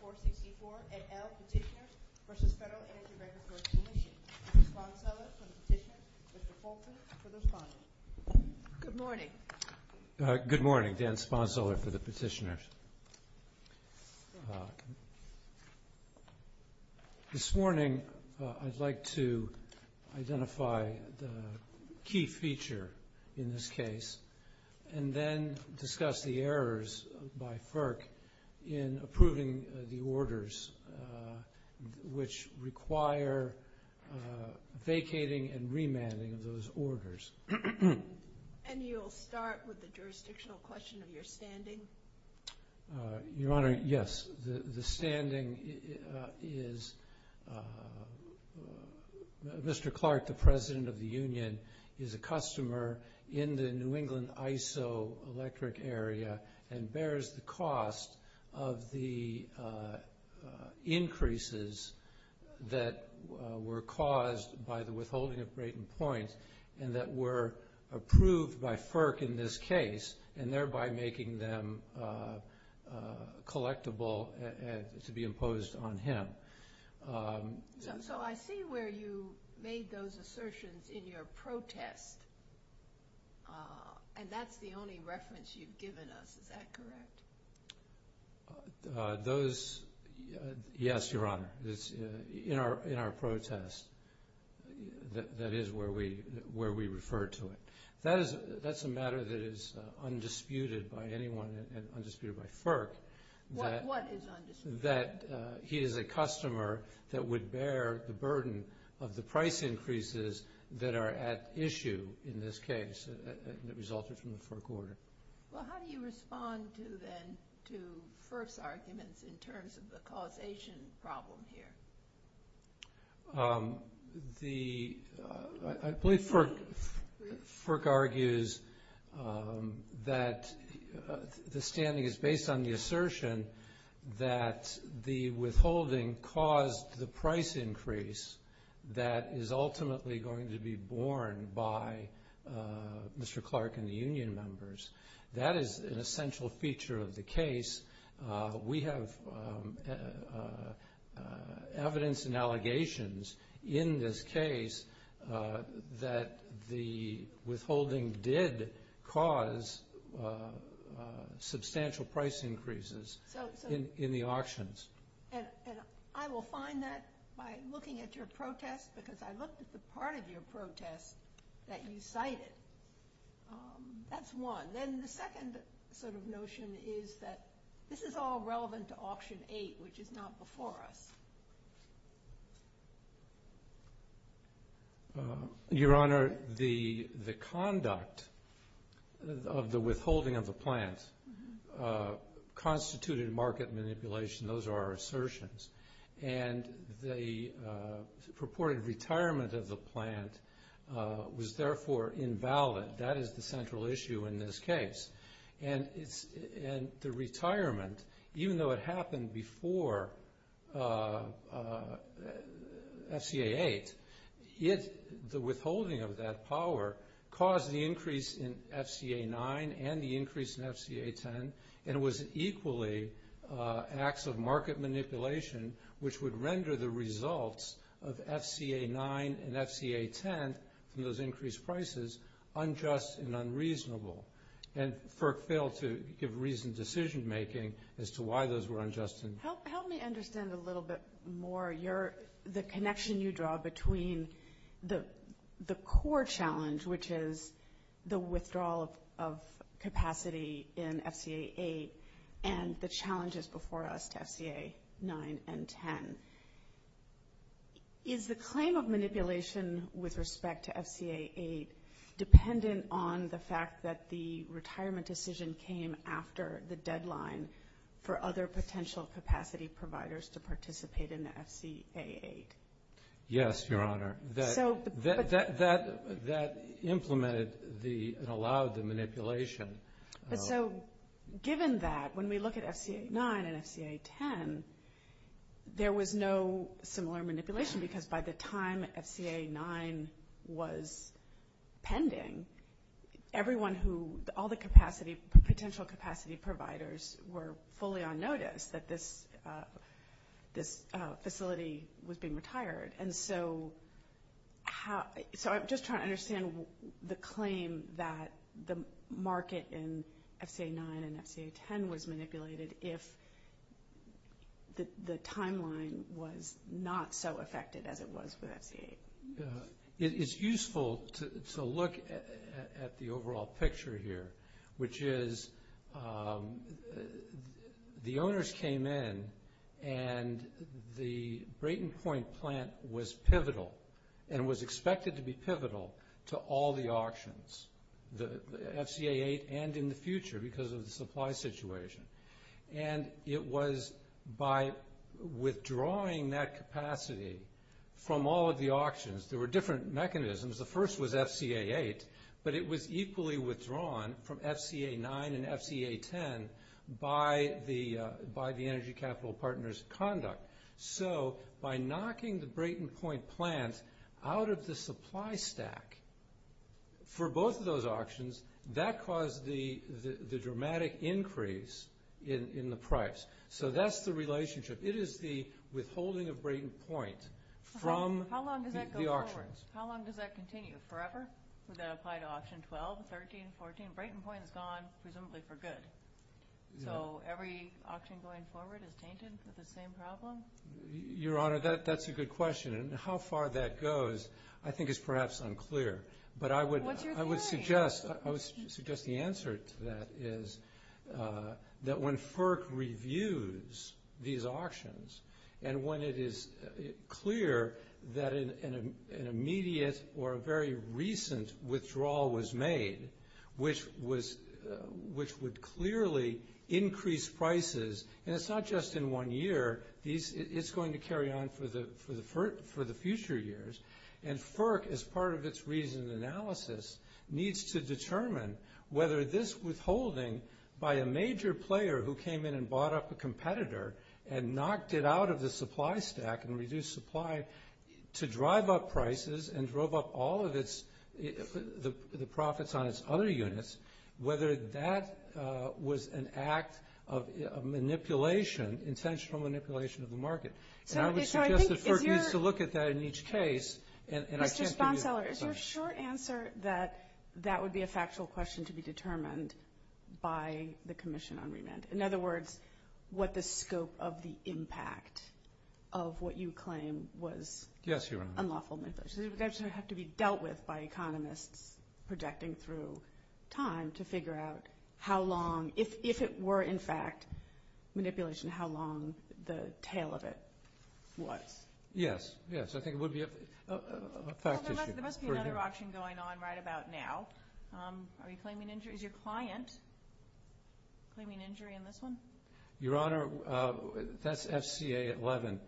464, et al. Petitioners v. Federal Energy Regulatory Commission. Dan Sponseler for the petitioner. Mr. Fulton for the respondent. Good morning. Good morning, Dan Sponseler for the petitioner. This morning, I'd like to identify the key feature in this case and then discuss the errors by FERC in approving the orders which require vacating and remanding of those orders. And you'll start with the jurisdictional question of your standing? Your Honor, yes. The standing is Mr. Clark, the president of the union, is a customer in the New England ISO electric area and bears the cost of the increases that were caused by the withholding of Brayton Points and that were approved by FERC in this case and thereby making them collectible to be imposed on him. So I see where you made those assertions in your protest. And that's the only reference you've given us. Is that correct? Those, yes, Your Honor. In our protest, that is where we refer to it. That's a matter that is undisputed by anyone and undisputed by FERC. What is undisputed? That he is a customer that would bear the burden of the price increases that are at issue in this case that resulted from The, I believe FERC argues that the standing is based on the assertion that the withholding caused the price increase that is ultimately going to be borne by Mr. Clark and the union evidence and allegations in this case that the withholding did cause substantial price increases in the auctions. And I will find that by looking at your protest because I looked at the part of your protest that you cited. That's one. Then the second sort of Your Honor, the conduct of the withholding of the plant constituted market manipulation. Those are assertions. And the purported retirement of the plant was therefore invalid. That is the central issue in this case. And the retirement, even though it happened before FCA 8, the withholding of that power caused the increase in FCA 9 and the increase in FCA 10 and was equally acts of market manipulation which would render the results of FCA 9 and FCA 10 from those increased prices unjust and unreasonable. And FERC failed to give reasoned decision making as to why those were unjust and Help me understand a little bit more. The connection you draw between the core challenge which is the withdrawal of capacity in FCA 8 and the challenges before us to FCA 9 and FCA 10. Is the claim of manipulation with respect to FCA 8 dependent on the fact that the retirement decision came after the deadline for other potential capacity providers to participate in FCA 8? Yes, Your Honor. That implemented and allowed the manipulation. But so, given that, when we look at FCA 9 and FCA 10, there was no similar manipulation because by the time FCA 9 was pending, everyone who, all the potential capacity providers were fully on notice that this facility was being retired. And so, I'm just trying to FCA 9 and FCA 10 was manipulated if the timeline was not so affected as it was with FCA 8. It's useful to look at the overall picture here which is the owners came in and the Brayton 8 and in the future because of the supply situation. And it was by withdrawing that capacity from all of the auctions. There were different mechanisms. The first was FCA 8, but it was equally withdrawn from FCA 9 and FCA 10 by the Energy Capital Partners conduct. So, by knocking the Brayton Point plant out of the supply stack for both of those auctions, that caused the dramatic increase in the price. So, that's the relationship. It is the withholding of Brayton Point from the auctions. How long does that go forward? How long does that continue? Forever? Would that apply to Auction 12, 13, 14? Brayton Point is gone presumably for good. So, every auction going forward is tainted with the same problem? Your Honor, that's a good question. And how far that goes, I think is perhaps unclear. But I would suggest the answer to that is that when FERC reviews these auctions and when it is clear that an immediate or a very recent withdrawal was made, which would clearly increase prices, and it's not just in one year. It's going to carry on for the future years. And FERC, as part of its reasoned analysis, needs to determine whether this withholding by a major player who came in and bought up a competitor and knocked it out of the supply stack and reduced supply to drive up prices and drove up all of the profits on its other units, whether that was an act of manipulation, intentional manipulation of the market. And I would suggest that FERC needs to look at that in each case. And I can't give you a precise answer. Mr. Sponseller, is your short answer that that would be a factual question to be determined by the Commission on Remand? In other words, what the scope of the impact of what you claim was unlawful manipulation? Yes, Your Honor. Would that have to be dealt with by economists projecting through time to figure out how long, if it were, in fact, manipulation, how long the tail of it was? Yes, yes. I think it would be a fact issue. There must be another auction going on right about now. Are you claiming injury? Is your client claiming injury in this one? Your Honor, that's FCA 11.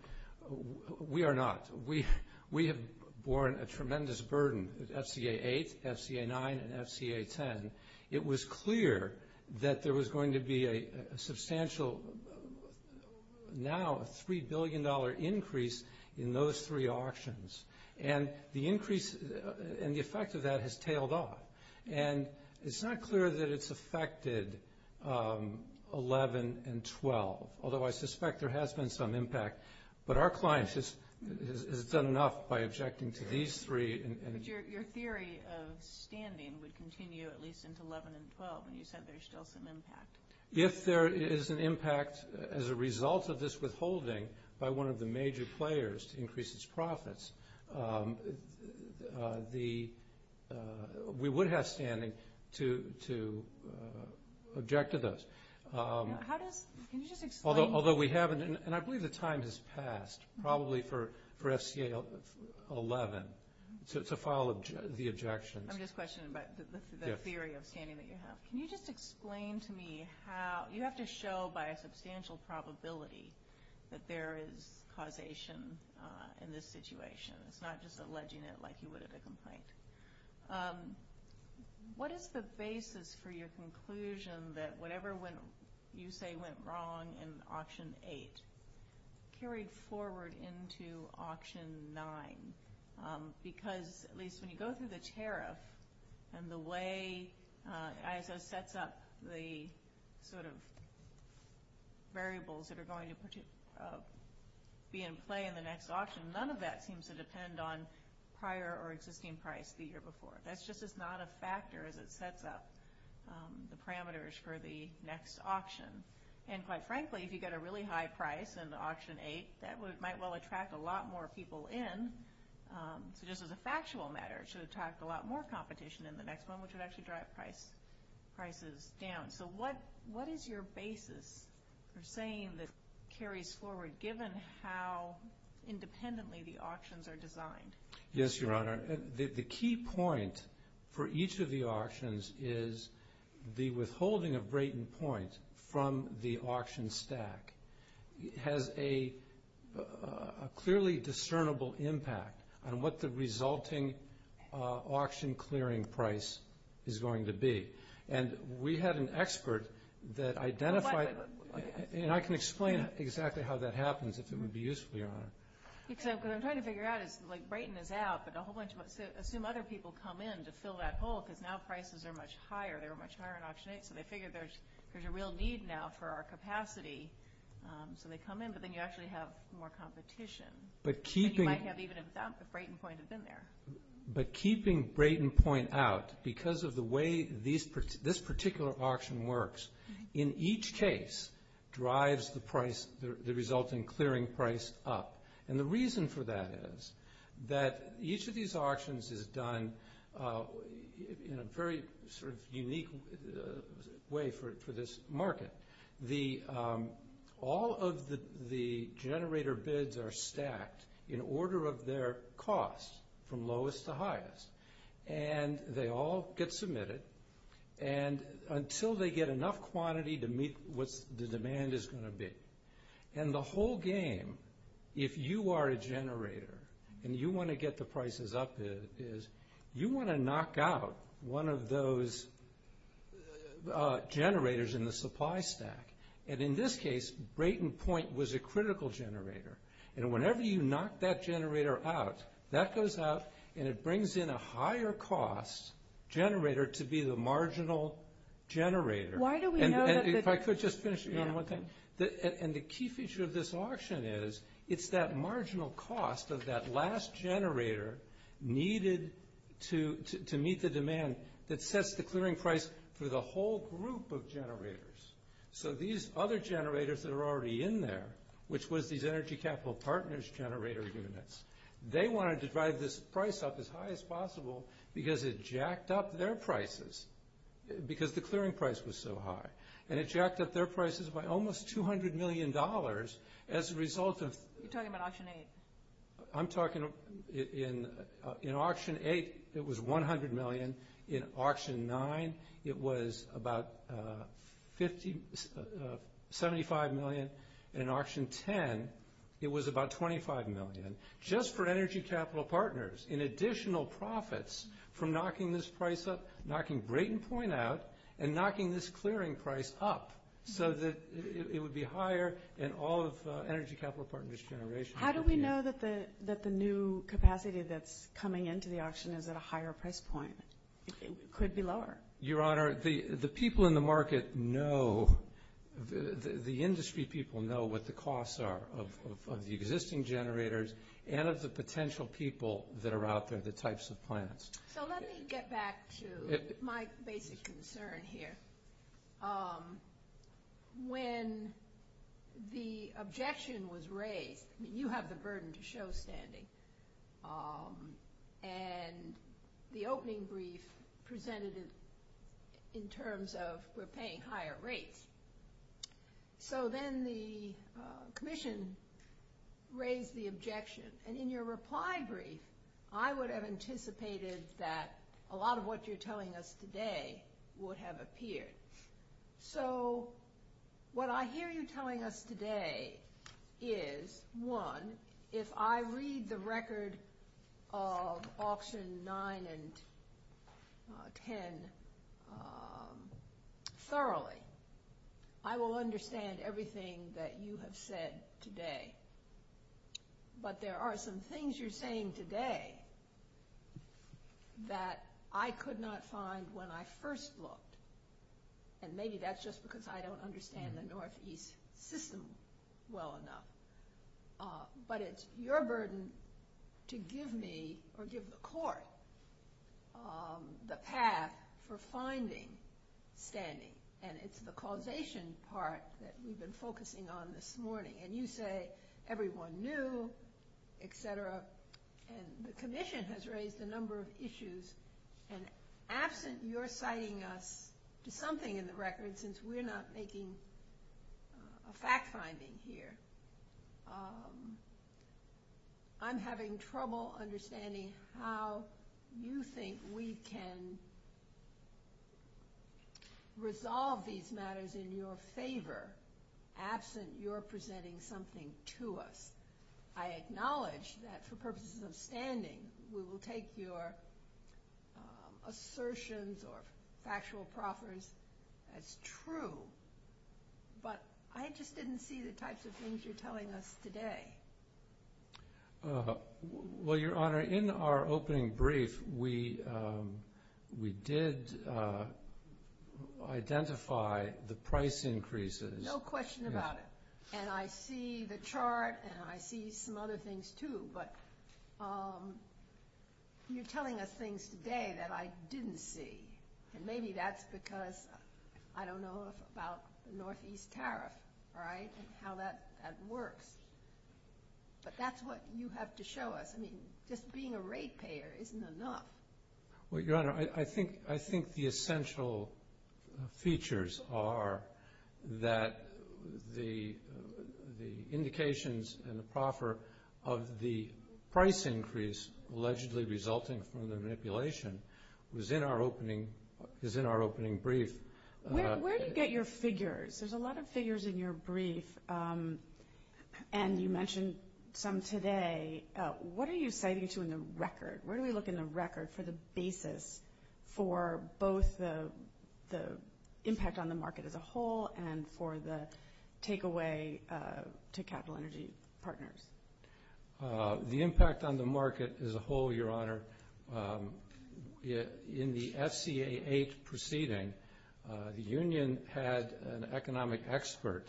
We are not. We have borne a tremendous burden with FCA 8, FCA 9, and FCA 10. It was clear that there was going to be a substantial, now $3 billion increase in those three auctions. And the increase and the effect of that has tailed off. And it's not clear that it's affected 11 and 12, although I suspect there has been some impact. But our client has done enough by objecting to these three. But your theory of standing would continue at least into 11 and 12, and you said there's still some impact. If there is an impact as a result of this withholding by one of the major players to increase its profits, we would have standing to object to those. Can you just explain? Although we haven't, and I believe the time has passed probably for FCA 11 to file the objections. I'm just questioning about the theory of standing that you have. Can you just explain to me how – you have to show by a substantial probability that there is causation in this situation. It's not just alleging it like you would have a complaint. What is the basis for your conclusion that whatever you say went wrong in auction eight carried forward into auction nine? Because at least when you go through the tariff and the way ISO sets up the sort of variables that are going to be in play in the next auction, none of that seems to depend on prior or existing price the year before. That's just not a factor as it sets up the parameters for the next auction. And quite frankly, if you get a really high price in auction eight, that might well attract a lot more people in. So just as a factual matter, it should attract a lot more competition in the next one, which would actually drive prices down. So what is your basis for saying that it carries forward given how independently the auctions are designed? Yes, Your Honor. The key point for each of the auctions is the withholding of Brayton Point from the auction stack has a clearly discernible impact on what the resulting auction clearing price is going to be. And we had an expert that identified – and I can explain exactly how that happens if it would be useful, Your Honor. What I'm trying to figure out is like Brayton is out, but a whole bunch of – assume other people come in to fill that hole because now prices are much higher. They're much higher in auction eight, so they figure there's a real need now for our capacity. So they come in, but then you actually have more competition than you might have even if Brayton Point had been there. But keeping Brayton Point out, because of the way this particular auction works, in each case drives the resulting clearing price up. And the reason for that is that each of these auctions is done in a very sort of unique way for this market. All of the generator bids are stacked in order of their cost from lowest to highest. And they all get submitted until they get enough quantity to meet what the demand is going to be. And the whole game, if you are a generator and you want to get the prices up, you want to knock out one of those generators in the supply stack. And in this case, Brayton Point was a critical generator. And whenever you knock that generator out, that goes out and it brings in a higher cost generator to be the marginal generator. And if I could just finish, Your Honor, one thing. And the key feature of this auction is it's that marginal cost of that last generator needed to meet the demand that sets the clearing price for the whole group of generators. So these other generators that are already in there, which was these Energy Capital Partners generator units, they wanted to drive this price up as high as possible because it jacked up their prices, because the clearing price was so high. And it jacked up their prices by almost $200 million as a result of... You're talking about Auction 8. I'm talking in Auction 8, it was $100 million. In Auction 9, it was about $75 million. In Auction 10, it was about $25 million. Just for Energy Capital Partners in additional profits from knocking this price up, knocking Brayton Point out, and knocking this clearing price up, so that it would be higher in all of Energy Capital Partners' generation. How do we know that the new capacity that's coming into the auction is at a higher price point? It could be lower. Your Honor, the people in the market know, the industry people know what the costs are of the existing generators and of the potential people that are out there, the types of plants. So let me get back to my basic concern here. When the objection was raised, you have the burden to show standing, and the opening brief presented it in terms of we're paying higher rates. So then the commission raised the objection, and in your reply brief, I would have anticipated that a lot of what you're telling us today would have appeared. So what I hear you telling us today is, one, if I read the record of auction 9 and 10 thoroughly, I will understand everything that you have said today. But there are some things you're saying today that I could not find when I first looked, and maybe that's just because I don't understand the Northeast system well enough. But it's your burden to give me or give the Court the path for finding standing, and it's the causation part that we've been focusing on this morning. And you say everyone knew, et cetera, and the commission has raised a number of issues, and absent your citing us to something in the record, since we're not making a fact-finding here, I'm having trouble understanding how you think we can resolve these matters in your favor, absent your presenting something to us. I acknowledge that for purposes of standing, we will take your assertions or factual proffers as true, but I just didn't see the types of things you're telling us today. Well, Your Honor, in our opening brief, we did identify the price increases. No question about it. And I see the chart, and I see some other things, too. But you're telling us things today that I didn't see, and maybe that's because I don't know about the Northeast tariff, all right, and how that works. But that's what you have to show us. I mean, just being a rate payer isn't enough. Well, Your Honor, I think the essential features are that the indications and the proffer of the price increase allegedly resulting from the manipulation is in our opening brief. Where do you get your figures? There's a lot of figures in your brief, and you mentioned some today. What are you citing to in the record? Where do we look in the record for the basis for both the impact on the market as a whole and for the takeaway to capital energy partners? The impact on the market as a whole, Your Honor, in the FCA8 proceeding, the union had an economic expert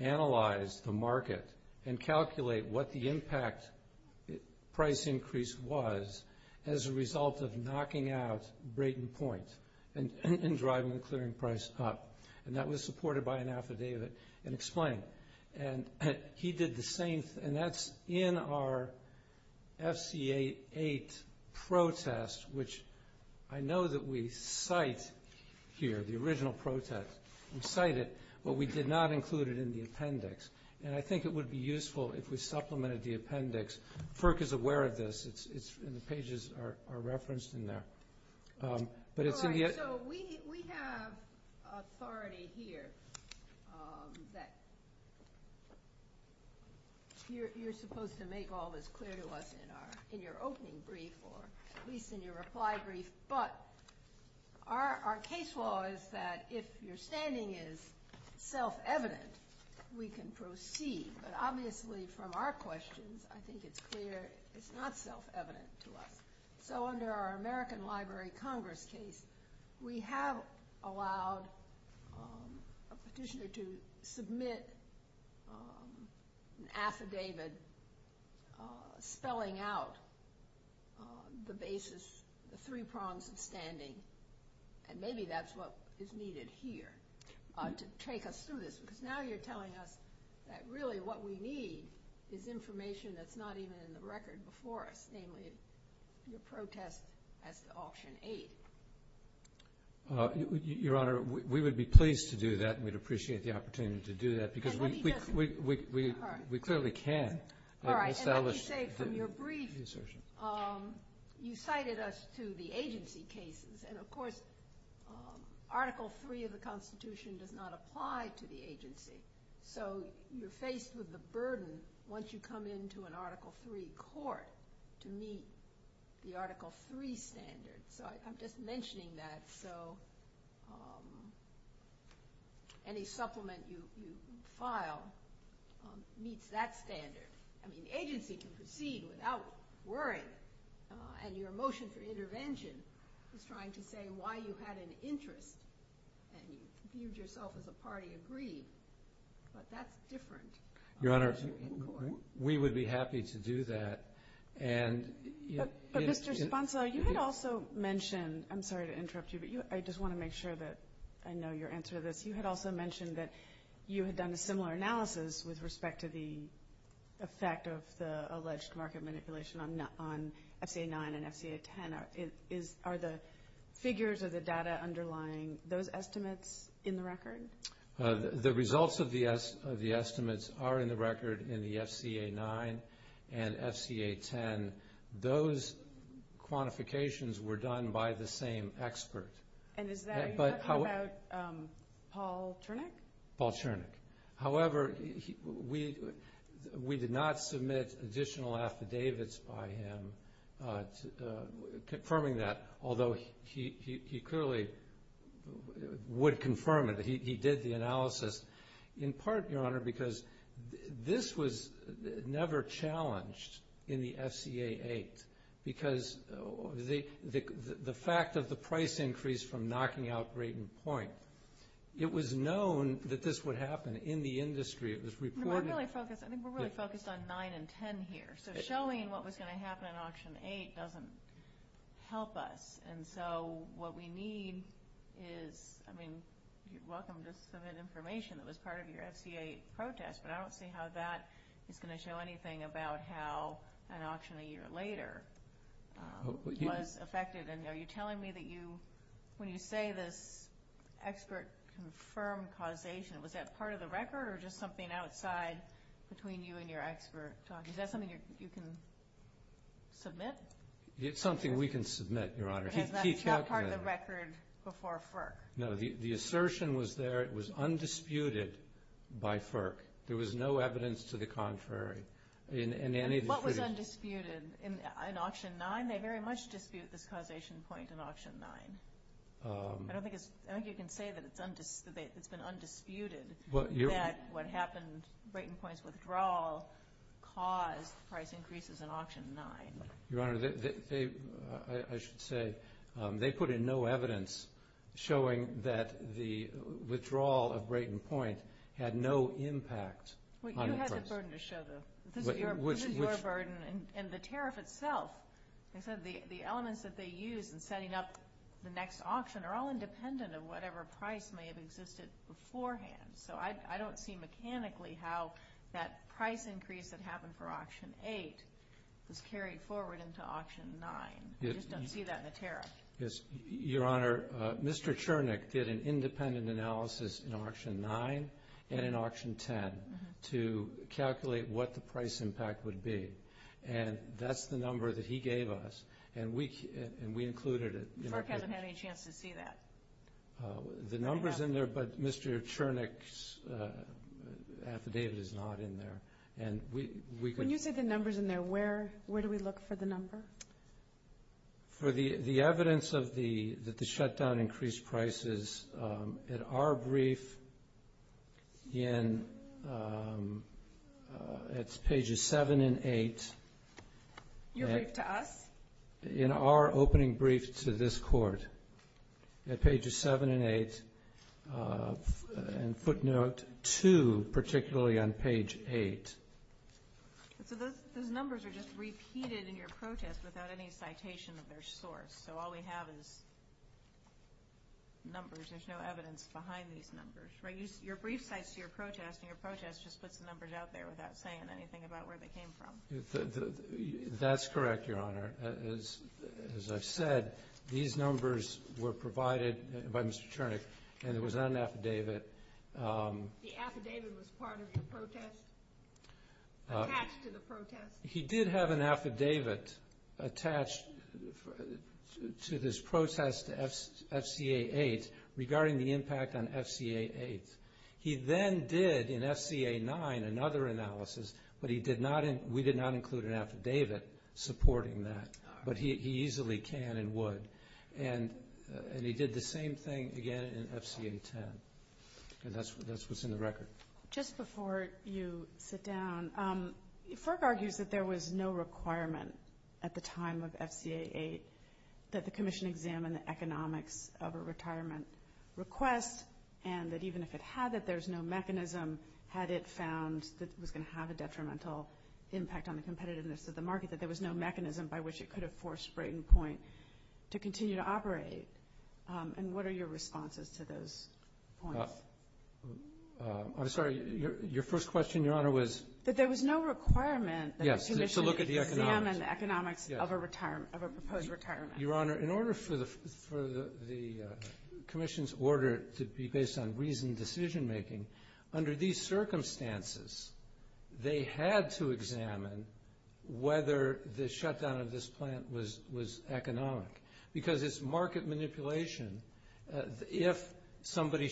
analyze the market and calculate what the impact price increase was as a result of knocking out Brayton Point and driving the clearing price up. And that was supported by an affidavit and explained. And he did the same, and that's in our FCA8 protest, which I know that we cite here, the original protest. We cite it, but we did not include it in the appendix. And I think it would be useful if we supplemented the appendix. FERC is aware of this, and the pages are referenced in there. All right, so we have authority here that you're supposed to make all this clear to us in your opening brief or at least in your reply brief. But our case law is that if your standing is self-evident, we can proceed. But obviously from our questions, I think it's clear it's not self-evident to us. So under our American Library Congress case, we have allowed a petitioner to submit an affidavit spelling out the basis, the three prongs of standing, and maybe that's what is needed here to take us through this. Because now you're telling us that really what we need is information that's not even in the record before us, namely your protest as the auction aide. Your Honor, we would be pleased to do that, and we'd appreciate the opportunity to do that, because we clearly can. All right, and let me say from your brief, you cited us to the agency cases. And, of course, Article III of the Constitution does not apply to the agency. So you're faced with the burden, once you come into an Article III court, to meet the Article III standard. So I'm just mentioning that so any supplement you file meets that standard. I mean, the agency can proceed without worrying, and your motion for intervention is trying to say why you had an interest and you viewed yourself as a party agreed, but that's different. Your Honor, we would be happy to do that. But, Mr. Sponsor, you had also mentioned, I'm sorry to interrupt you, but I just want to make sure that I know your answer to this. You had also mentioned that you had done a similar analysis with respect to the effect of the alleged market manipulation on FCA 9 and FCA 10. Are the figures or the data underlying those estimates in the record? The results of the estimates are in the record in the FCA 9 and FCA 10. Those quantifications were done by the same expert. And is that talking about Paul Chernick? Paul Chernick. However, we did not submit additional affidavits by him confirming that, although he clearly would confirm it. He did the analysis in part, Your Honor, because this was never challenged in the FCA 8 because the fact of the price increase from knocking out Great and Point, it was known that this would happen in the industry. It was reported. I think we're really focused on 9 and 10 here. So showing what was going to happen in Auction 8 doesn't help us. And so what we need is, I mean, you're welcome to submit information that was part of your FCA 8 protest, but I don't see how that is going to show anything about how an auction a year later was affected. And are you telling me that when you say this expert confirmed causation, was that part of the record or just something outside between you and your expert? Is that something you can submit? It's something we can submit, Your Honor. It's not part of the record before FERC? No. The assertion was there. It was undisputed by FERC. There was no evidence to the contrary in any dispute. What was undisputed? In Auction 9, they very much dispute this causation point in Auction 9. I don't think you can say that it's been undisputed that what happened, Brayton Point's withdrawal caused price increases in Auction 9. Your Honor, I should say they put in no evidence showing that the withdrawal of Brayton Point had no impact. You had the burden to show, though. This is your burden. And the tariff itself, the elements that they used in setting up the next auction are all independent of whatever price may have existed beforehand. So I don't see mechanically how that price increase that happened for Auction 8 was carried forward into Auction 9. I just don't see that in the tariff. Your Honor, Mr. Chernick did an independent analysis in Auction 9 and in Auction 10 to calculate what the price impact would be. And that's the number that he gave us, and we included it. Clark hasn't had any chance to see that. The number's in there, but Mr. Chernick's affidavit is not in there. When you say the number's in there, where do we look for the number? For the evidence that the shutdown increased prices, in our brief, it's pages 7 and 8. Your brief to us? In our opening brief to this Court, at pages 7 and 8, and footnote 2 particularly on page 8. So those numbers are just repeated in your protest without any citation of their source. So all we have is numbers. There's no evidence behind these numbers. Your brief cites to your protest, and your protest just puts the numbers out there without saying anything about where they came from. That's correct, Your Honor. As I've said, these numbers were provided by Mr. Chernick, and it was on an affidavit. The affidavit was part of your protest? Attached to the protest? He did have an affidavit attached to this protest, FCA 8, regarding the impact on FCA 8. He then did, in FCA 9, another analysis, but we did not include an affidavit supporting that. But he easily can and would. And he did the same thing again in FCA 10, and that's what's in the record. Just before you sit down, Ferg argues that there was no requirement at the time of FCA 8 that the Commission examine the economics of a retirement request, and that even if it had it, there's no mechanism, had it found that it was going to have a detrimental impact on the competitiveness of the market, that there was no mechanism by which it could have forced Brayton Point to continue to operate. And what are your responses to those points? I'm sorry. Your first question, Your Honor, was? That there was no requirement that the Commission examine the economics of a proposed retirement. Your Honor, in order for the Commission's order to be based on reasoned decision-making, under these circumstances, they had to examine whether the shutdown of this plant was economic. Because it's market manipulation. If somebody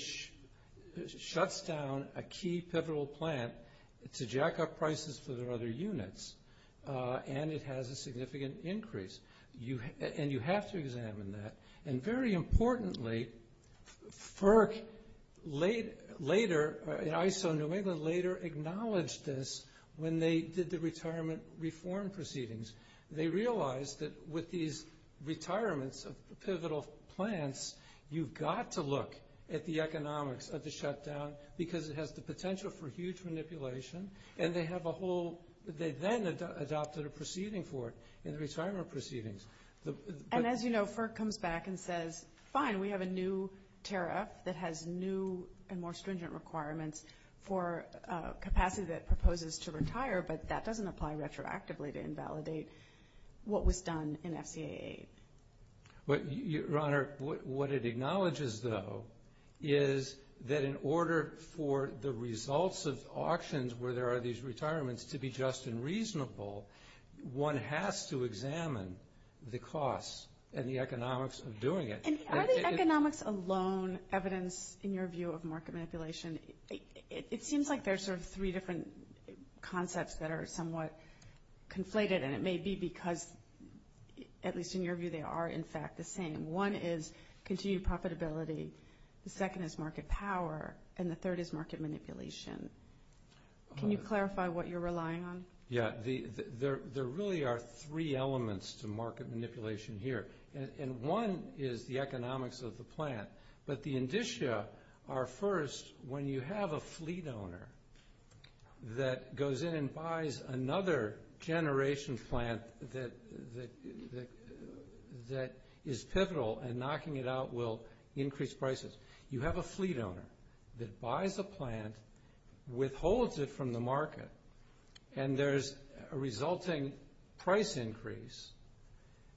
shuts down a key pivotal plant to jack up prices for their other units, and it has a significant increase, and you have to examine that. And very importantly, FERC later, ISO New England later acknowledged this when they did the retirement reform proceedings. They realized that with these retirements of pivotal plants, you've got to look at the economics of the shutdown, because it has the potential for huge manipulation, and they have a whole, they then adopted a proceeding for it in the retirement proceedings. And as you know, FERC comes back and says, fine, we have a new tariff that has new and more stringent requirements for capacity that proposes to retire, but that doesn't apply retroactively to invalidate what was done in FCAA. Your Honor, what it acknowledges, though, is that in order for the results of auctions where there are these retirements to be just and reasonable, one has to examine the costs and the economics of doing it. And are the economics alone evidence, in your view, of market manipulation? It seems like there's sort of three different concepts that are somewhat conflated, and it may be because, at least in your view, they are, in fact, the same. One is continued profitability, the second is market power, and the third is market manipulation. Can you clarify what you're relying on? Yeah. There really are three elements to market manipulation here, and one is the economics of the plant. But the indicia are, first, when you have a fleet owner that goes in and buys another generation plant that is pivotal and knocking it out will increase prices. You have a fleet owner that buys a plant, withholds it from the market, and there's a resulting price increase.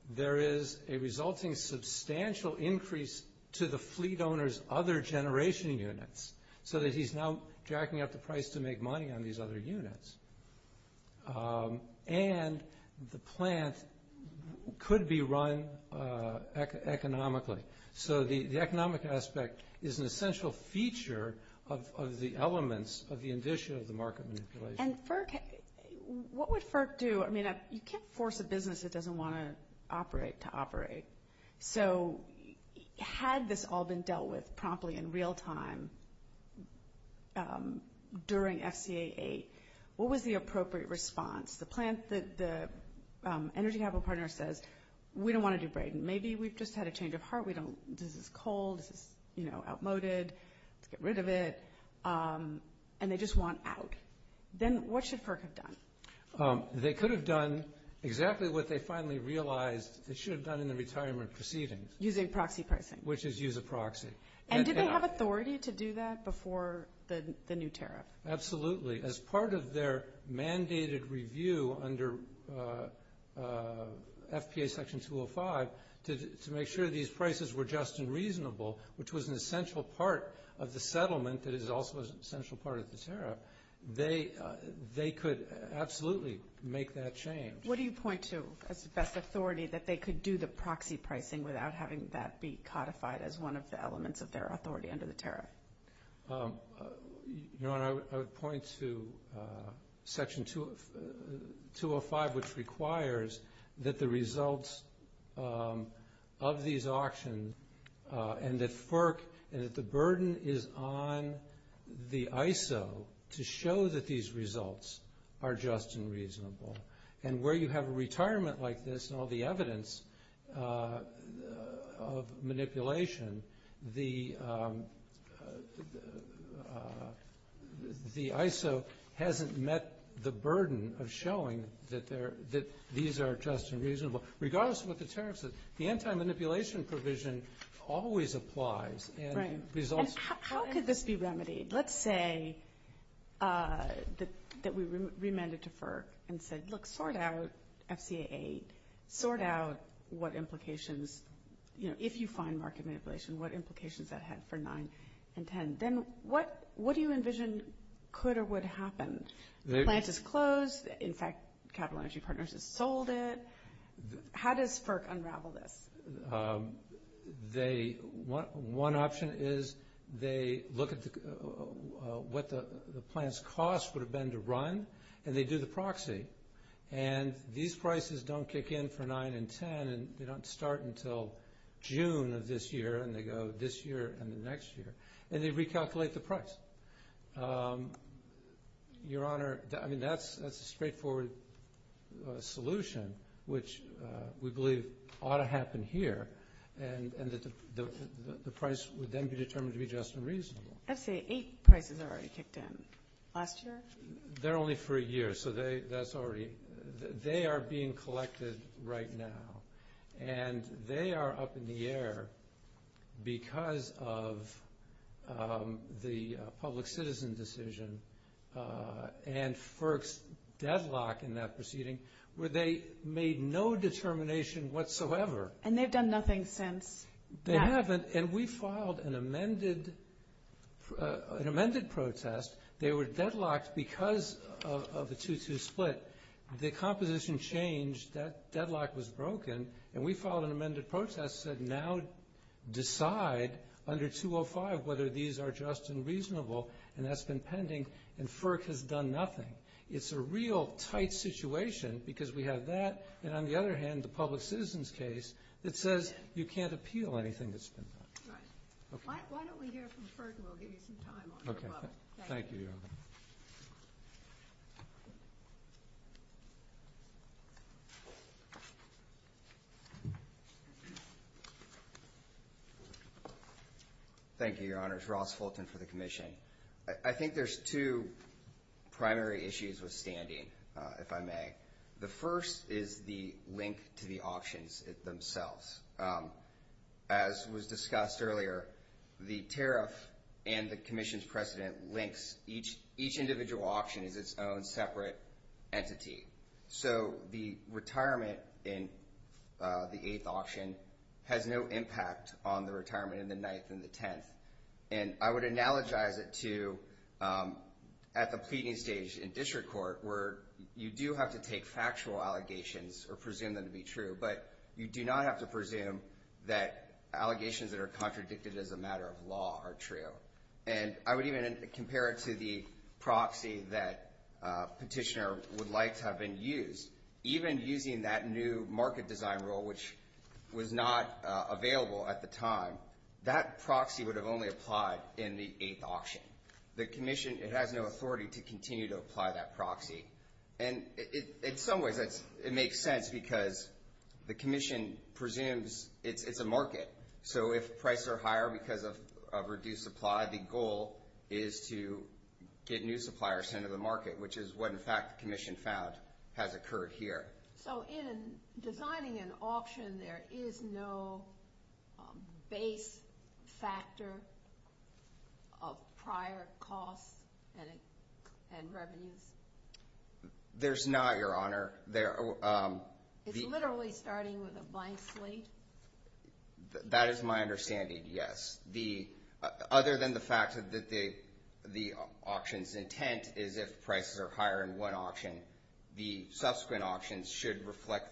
There is a resulting substantial increase to the fleet owner's other generation units, so that he's now jacking up the price to make money on these other units. And the plant could be run economically. So the economic aspect is an essential feature of the elements of the indicia of the market manipulation. And FERC, what would FERC do? I mean, you can't force a business that doesn't want to operate to operate. So had this all been dealt with promptly in real time during FCA 8, what was the appropriate response? The energy capital partner says, we don't want to do Braden. Maybe we've just had a change of heart. This is cold. This is outmoded. Let's get rid of it. And they just want out. Then what should FERC have done? They could have done exactly what they finally realized they should have done in the retirement proceedings. Using proxy pricing. Which is use a proxy. And did they have authority to do that before the new tariff? Absolutely. As part of their mandated review under FPA Section 205 to make sure these prices were just and reasonable, which was an essential part of the settlement that is also an essential part of the tariff, they could absolutely make that change. What do you point to as best authority that they could do the proxy pricing without having that be codified as one of the elements of their authority under the tariff? I would point to Section 205, which requires that the results of these auctions and that FERC and that the burden is on the ISO to show that these results are just and reasonable. And where you have a retirement like this and all the evidence of manipulation, the ISO hasn't met the burden of showing that these are just and reasonable. Regardless of what the tariff is, the anti-manipulation provision always applies. And how could this be remedied? Let's say that we remanded to FERC and said, look, sort out FCA 8. Sort out what implications, you know, if you find market manipulation, what implications that had for 9 and 10. Then what do you envision could or would happen? The plant is closed. In fact, Capital Energy Partners has sold it. How does FERC unravel this? One option is they look at what the plant's cost would have been to run, and they do the proxy. And these prices don't kick in for 9 and 10, and they don't start until June of this year, and they go this year and the next year. And they recalculate the price. Your Honor, I mean, that's a straightforward solution, which we believe ought to happen here, and that the price would then be determined to be just and reasonable. FCA 8 prices are already kicked in. Last year? They're only for a year, so they are being collected right now. And they are up in the air because of the public citizen decision and FERC's deadlock in that proceeding where they made no determination whatsoever. And they've done nothing since. They haven't, and we filed an amended protest. They were deadlocked because of the 2-2 split. The composition changed. That deadlock was broken, and we filed an amended protest that said, now decide under 205 whether these are just and reasonable, and that's been pending. And FERC has done nothing. It's a real tight situation because we have that, and on the other hand, the public citizen's case that says you can't appeal anything that's been done. Right. Why don't we hear from FERC, and we'll give you some time on that. Okay. Thank you, Your Honor. Thank you. Thank you, Your Honor. It's Ross Fulton for the commission. I think there's two primary issues with standing, if I may. The first is the link to the auctions themselves. As was discussed earlier, the tariff and the commission's precedent links each individual auction as its own separate entity. So the retirement in the eighth auction has no impact on the retirement in the ninth and the tenth. And I would analogize it to at the pleading stage in district court, where you do have to take factual allegations or presume them to be true, but you do not have to presume that allegations that are contradicted as a matter of law are true. And I would even compare it to the proxy that petitioner would like to have been used. Even using that new market design rule, which was not available at the time, that proxy would have only applied in the eighth auction. The commission has no authority to continue to apply that proxy. And in some ways it makes sense because the commission presumes it's a market. So if prices are higher because of reduced supply, the goal is to get new suppliers into the market, which is what, in fact, the commission found has occurred here. So in designing an auction, there is no base factor of prior costs and revenues? There's not, Your Honor. It's literally starting with a blank slate? That is my understanding, yes. Other than the fact that the auction's intent is if prices are higher in one auction, the subsequent auctions should reflect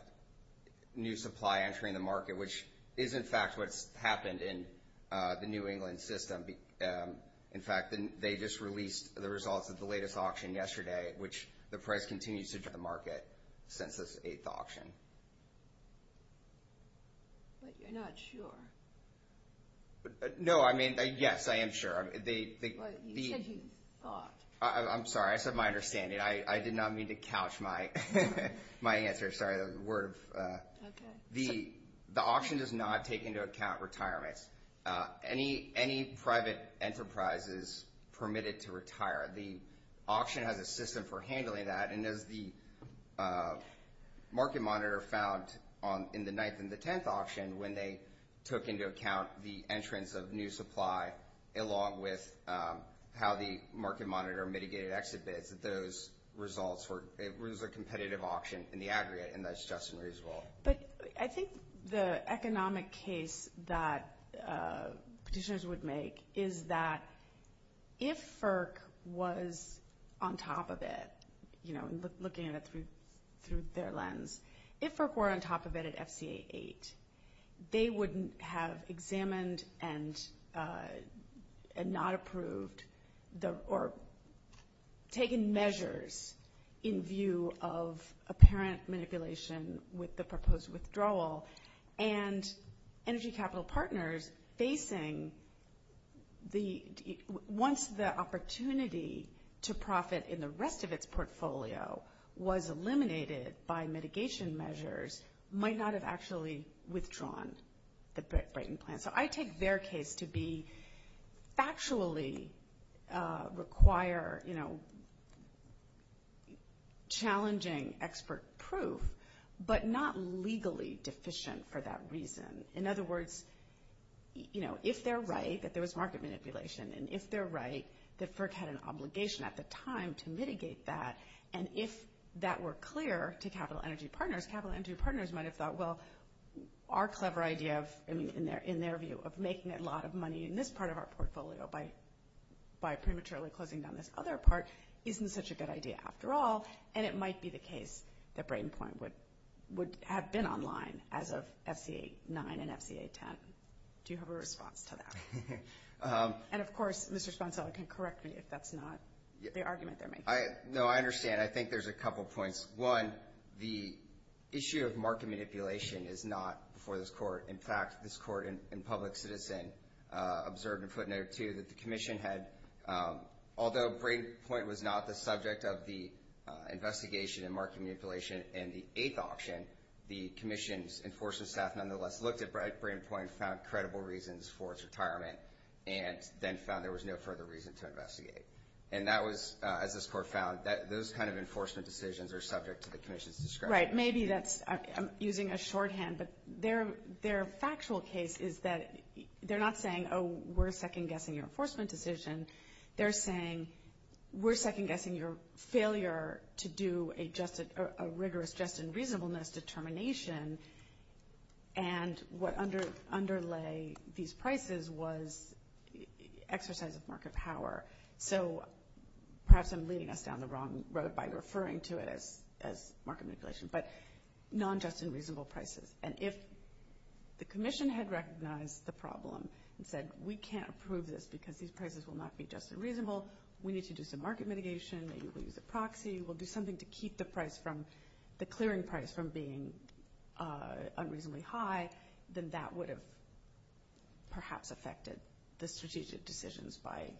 new supply entering the market, which is, in fact, what's happened in the New England system. In fact, they just released the results of the latest auction yesterday, which the price continues to enter the market since this eighth auction. But you're not sure? No, I mean, yes, I am sure. But you said you thought. I'm sorry. I said my understanding. I did not mean to couch my answer. Sorry, the word. The auction does not take into account retirement. Any private enterprise is permitted to retire. The auction has a system for handling that, and as the market monitor found in the ninth and the tenth auction, when they took into account the entrance of new supply, along with how the market monitor mitigated exit bids, that those results were a competitive auction in the aggregate, and that's just as reasonable. But I think the economic case that petitioners would make is that if FERC was on top of it, you know, looking at it through their lens, if FERC were on top of it at FCA 8, they wouldn't have examined and not approved or taken measures in view of apparent manipulation with the proposed withdrawal. And Energy Capital Partners, facing once the opportunity to profit in the rest of its portfolio was eliminated by mitigation measures, might not have actually withdrawn the Brayton plan. So I take their case to be factually require, you know, challenging expert proof, but not legally deficient for that reason. In other words, you know, if they're right that there was market manipulation, and if they're right that FERC had an obligation at the time to mitigate that, and if that were clear to Capital Energy Partners, might have thought, well, our clever idea of, in their view, of making a lot of money in this part of our portfolio by prematurely closing down this other part isn't such a good idea after all, and it might be the case that Brayton plan would have been online as of FCA 9 and FCA 10. Do you have a response to that? And, of course, Mr. Spencella can correct me if that's not the argument they're making. No, I understand. I think there's a couple points. One, the issue of market manipulation is not before this court. In fact, this court in public citizen observed in footnote 2 that the commission had, although Brayton Point was not the subject of the investigation in market manipulation in the eighth auction, the commission's enforcement staff nonetheless looked at Brayton Point and found credible reasons for its retirement and then found there was no further reason to investigate. And that was, as this court found, those kind of enforcement decisions are subject to the commission's discretion. Right. Maybe that's using a shorthand, but their factual case is that they're not saying, oh, we're second-guessing your enforcement decision. They're saying we're second-guessing your failure to do a rigorous just and reasonableness determination, and what underlay these prices was exercise of market power. So perhaps I'm leading us down the wrong road by referring to it as market manipulation, but non-just and reasonable prices. And if the commission had recognized the problem and said we can't approve this because these prices will not be just and reasonable, we need to do some market mitigation, maybe we'll use a proxy, we'll do something to keep the price from, the clearing price from being unreasonably high, then that would have perhaps affected the strategic decisions by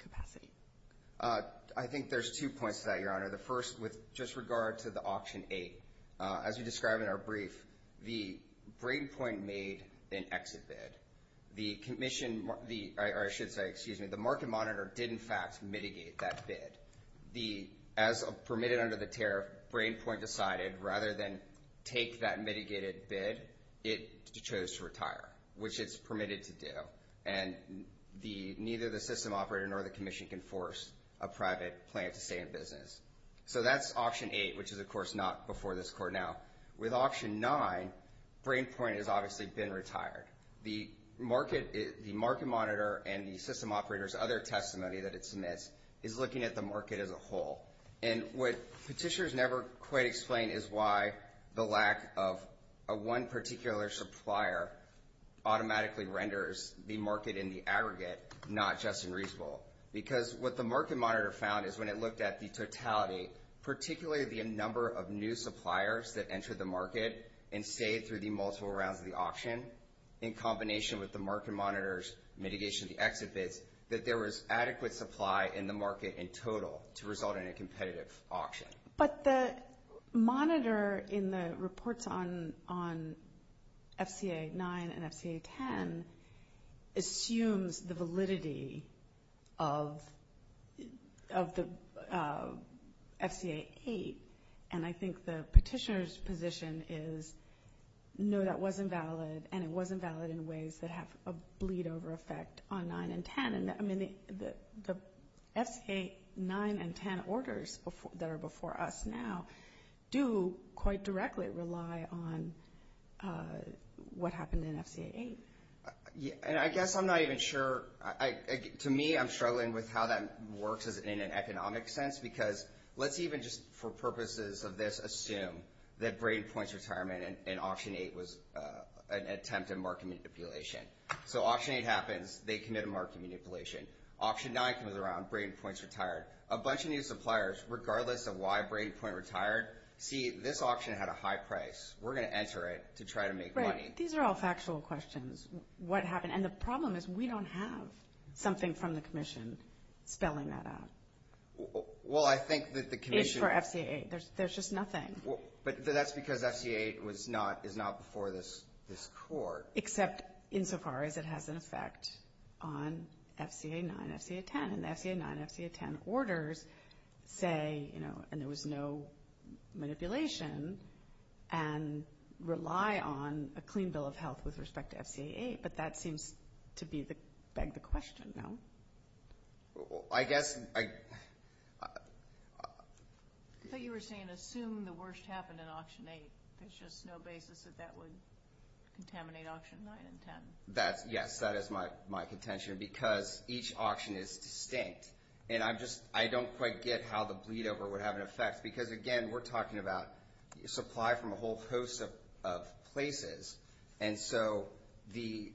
capacity. I think there's two points to that, Your Honor. The first, with just regard to the Auction 8, as we describe in our brief, the BrainPoint made an exit bid. The market monitor did, in fact, mitigate that bid. As permitted under the tariff, BrainPoint decided rather than take that mitigated bid, it chose to retire, which it's permitted to do. And neither the system operator nor the commission can force a private plan to stay in business. So that's Auction 8, which is, of course, not before this Court now. With Auction 9, BrainPoint has obviously been retired. The market monitor and the system operator's other testimony that it submits is looking at the market as a whole. And what Petitioners never quite explain is why the lack of one particular supplier automatically renders the market in the aggregate not just unreasonable. Because what the market monitor found is when it looked at the totality, particularly the number of new suppliers that entered the market and stayed through the multiple rounds of the auction, in combination with the market monitor's mitigation of the exit bids, that there was adequate supply in the market in total to result in a competitive auction. But the monitor in the reports on FCA 9 and FCA 10 assumes the validity of the FCA 8. And I think the petitioner's position is, no, that wasn't valid, and it wasn't valid in ways that have a bleed-over effect on 9 and 10. I mean, the FCA 9 and 10 orders that are before us now do quite directly rely on what happened in FCA 8. And I guess I'm not even sure. To me, I'm struggling with how that works in an economic sense, because let's even just, for purposes of this, assume that Brady Points retirement in Auction 8 was an attempt at market manipulation. So Auction 8 happens, they commit a market manipulation. Auction 9 comes around, Brady Points retired. A bunch of new suppliers, regardless of why Brady Point retired, see, this auction had a high price. We're going to enter it to try to make money. Right. These are all factual questions. And the problem is we don't have something from the commission spelling that out. Well, I think that the commission – It's for FCA 8. There's just nothing. But that's because FCA 8 is not before this court. Except insofar as it has an effect on FCA 9 and FCA 10. And the FCA 9 and FCA 10 orders say, and there was no manipulation, and rely on a clean bill of health with respect to FCA 8. But that seems to beg the question, no? I guess – I thought you were saying assume the worst happened in Auction 8. There's just no basis that that would contaminate Auction 9 and 10. Yes, that is my contention, because each auction is distinct. And I don't quite get how the bleedover would have an effect, because, again, we're talking about supply from a whole host of places. And so the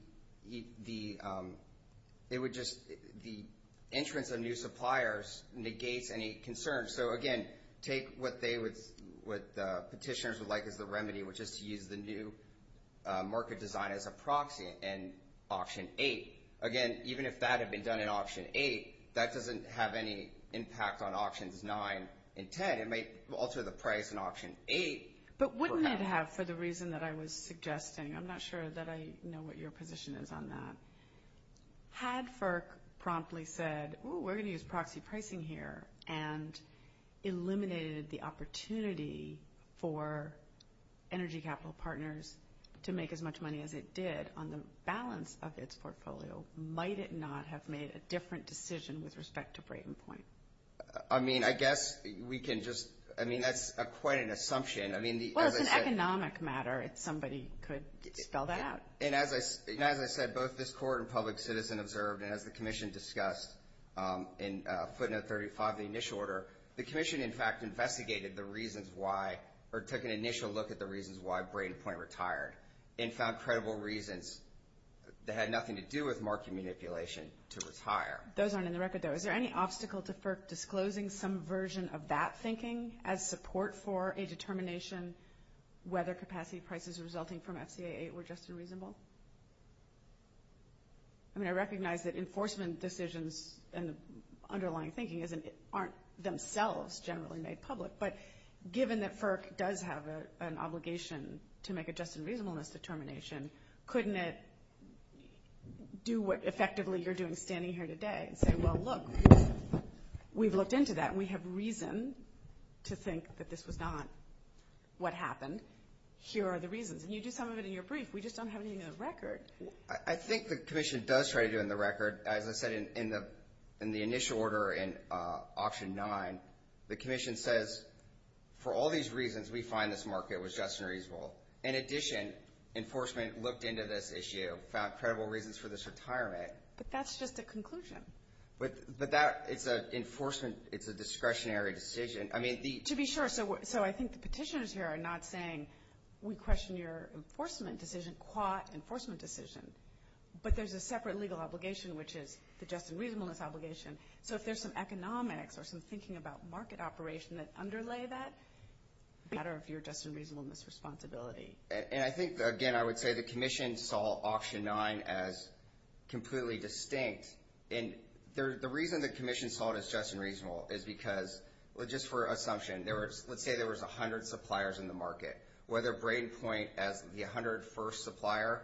entrance of new suppliers negates any concern. So, again, take what the petitioners would like as the remedy, which is to use the new market design as a proxy in Auction 8. Again, even if that had been done in Auction 8, that doesn't have any impact on Auctions 9 and 10. It might alter the price in Auction 8. But wouldn't it have, for the reason that I was suggesting? I'm not sure that I know what your position is on that. Had FERC promptly said, ooh, we're going to use proxy pricing here, and eliminated the opportunity for Energy Capital Partners to make as much money as it did on the balance of its portfolio, might it not have made a different decision with respect to Brayden Point? I mean, I guess we can just – I mean, that's quite an assumption. Well, it's an economic matter. Somebody could spell that out. And as I said, both this Court and Public Citizen observed, and as the Commission discussed in footnote 35 of the initial order, the Commission, in fact, investigated the reasons why or took an initial look at the reasons why Brayden Point retired and found credible reasons that had nothing to do with market manipulation to retire. Those aren't in the record, though. Is there any obstacle to FERC disclosing some version of that thinking as support for a determination whether capacity prices resulting from FCA 8 were just and reasonable? I mean, I recognize that enforcement decisions and underlying thinking aren't themselves generally made public, but given that FERC does have an obligation to make a just and reasonableness determination, couldn't it do what effectively you're doing standing here today and say, well, look, we've looked into that. We have reason to think that this was not what happened. Here are the reasons. And you do some of it in your brief. We just don't have anything in the record. I think the Commission does try to do it in the record. As I said, in the initial order in Option 9, the Commission says, for all these reasons, we find this market was just and reasonable. In addition, enforcement looked into this issue, found credible reasons for this retirement. But that's just a conclusion. But it's an enforcement, it's a discretionary decision. To be sure, so I think the petitioners here are not saying we question your enforcement decision, qua enforcement decision, but there's a separate legal obligation, which is the just and reasonableness obligation. So if there's some economics or some thinking about market operation that underlay that, it's a matter of your just and reasonableness responsibility. And I think, again, I would say the Commission saw Option 9 as completely distinct. And the reason the Commission saw it as just and reasonable is because, just for assumption, let's say there was 100 suppliers in the market. Whether Brayden Point as the 101st supplier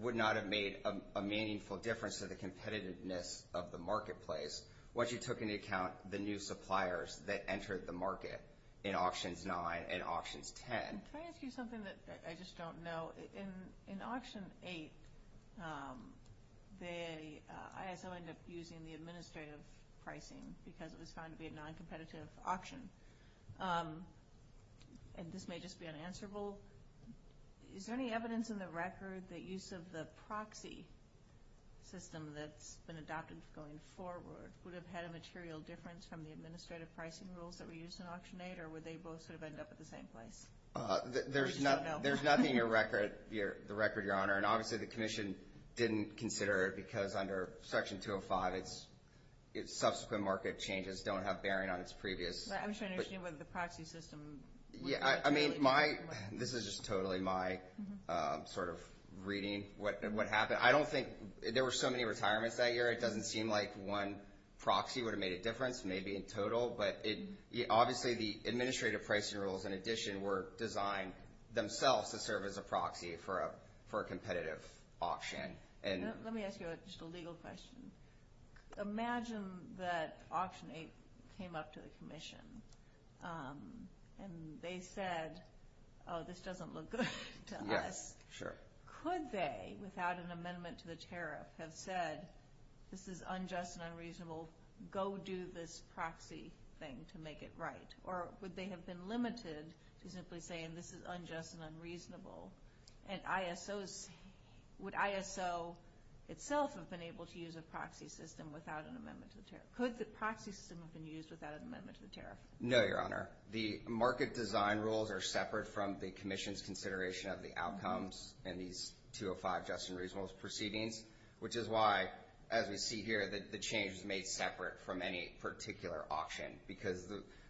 would not have made a meaningful difference to the competitiveness of the marketplace once you took into account the new suppliers that entered the market in Options 9 and Options 10. Can I ask you something that I just don't know? In Auction 8, the ISO ended up using the administrative pricing because it was found to be a noncompetitive auction. And this may just be unanswerable. Is there any evidence in the record that use of the proxy system that's been adopted going forward would have had a material difference from the administrative pricing rules that were used in Auction 8, or would they both sort of end up at the same place? There's nothing in the record, Your Honor. And obviously, the Commission didn't consider it because under Section 205, its subsequent market changes don't have bearing on its previous. I'm just trying to understand whether the proxy system... Yeah, I mean, this is just totally my sort of reading what happened. I don't think there were so many retirements that year. It doesn't seem like one proxy would have made a difference, maybe, in total. But obviously, the administrative pricing rules, in addition, were designed themselves to serve as a proxy for a competitive auction. Let me ask you just a legal question. Imagine that Auction 8 came up to the Commission, and they said, oh, this doesn't look good to us. Yes, sure. Could they, without an amendment to the tariff, have said, this is unjust and unreasonable, go do this proxy thing to make it right? Or would they have been limited to simply saying, this is unjust and unreasonable, and would ISO itself have been able to use a proxy system without an amendment to the tariff? Could the proxy system have been used without an amendment to the tariff? No, Your Honor. The market design rules are separate from the Commission's consideration of the outcomes in these 205 just and reasonable proceedings, which is why, as we see here, the change is made separate from any particular auction, because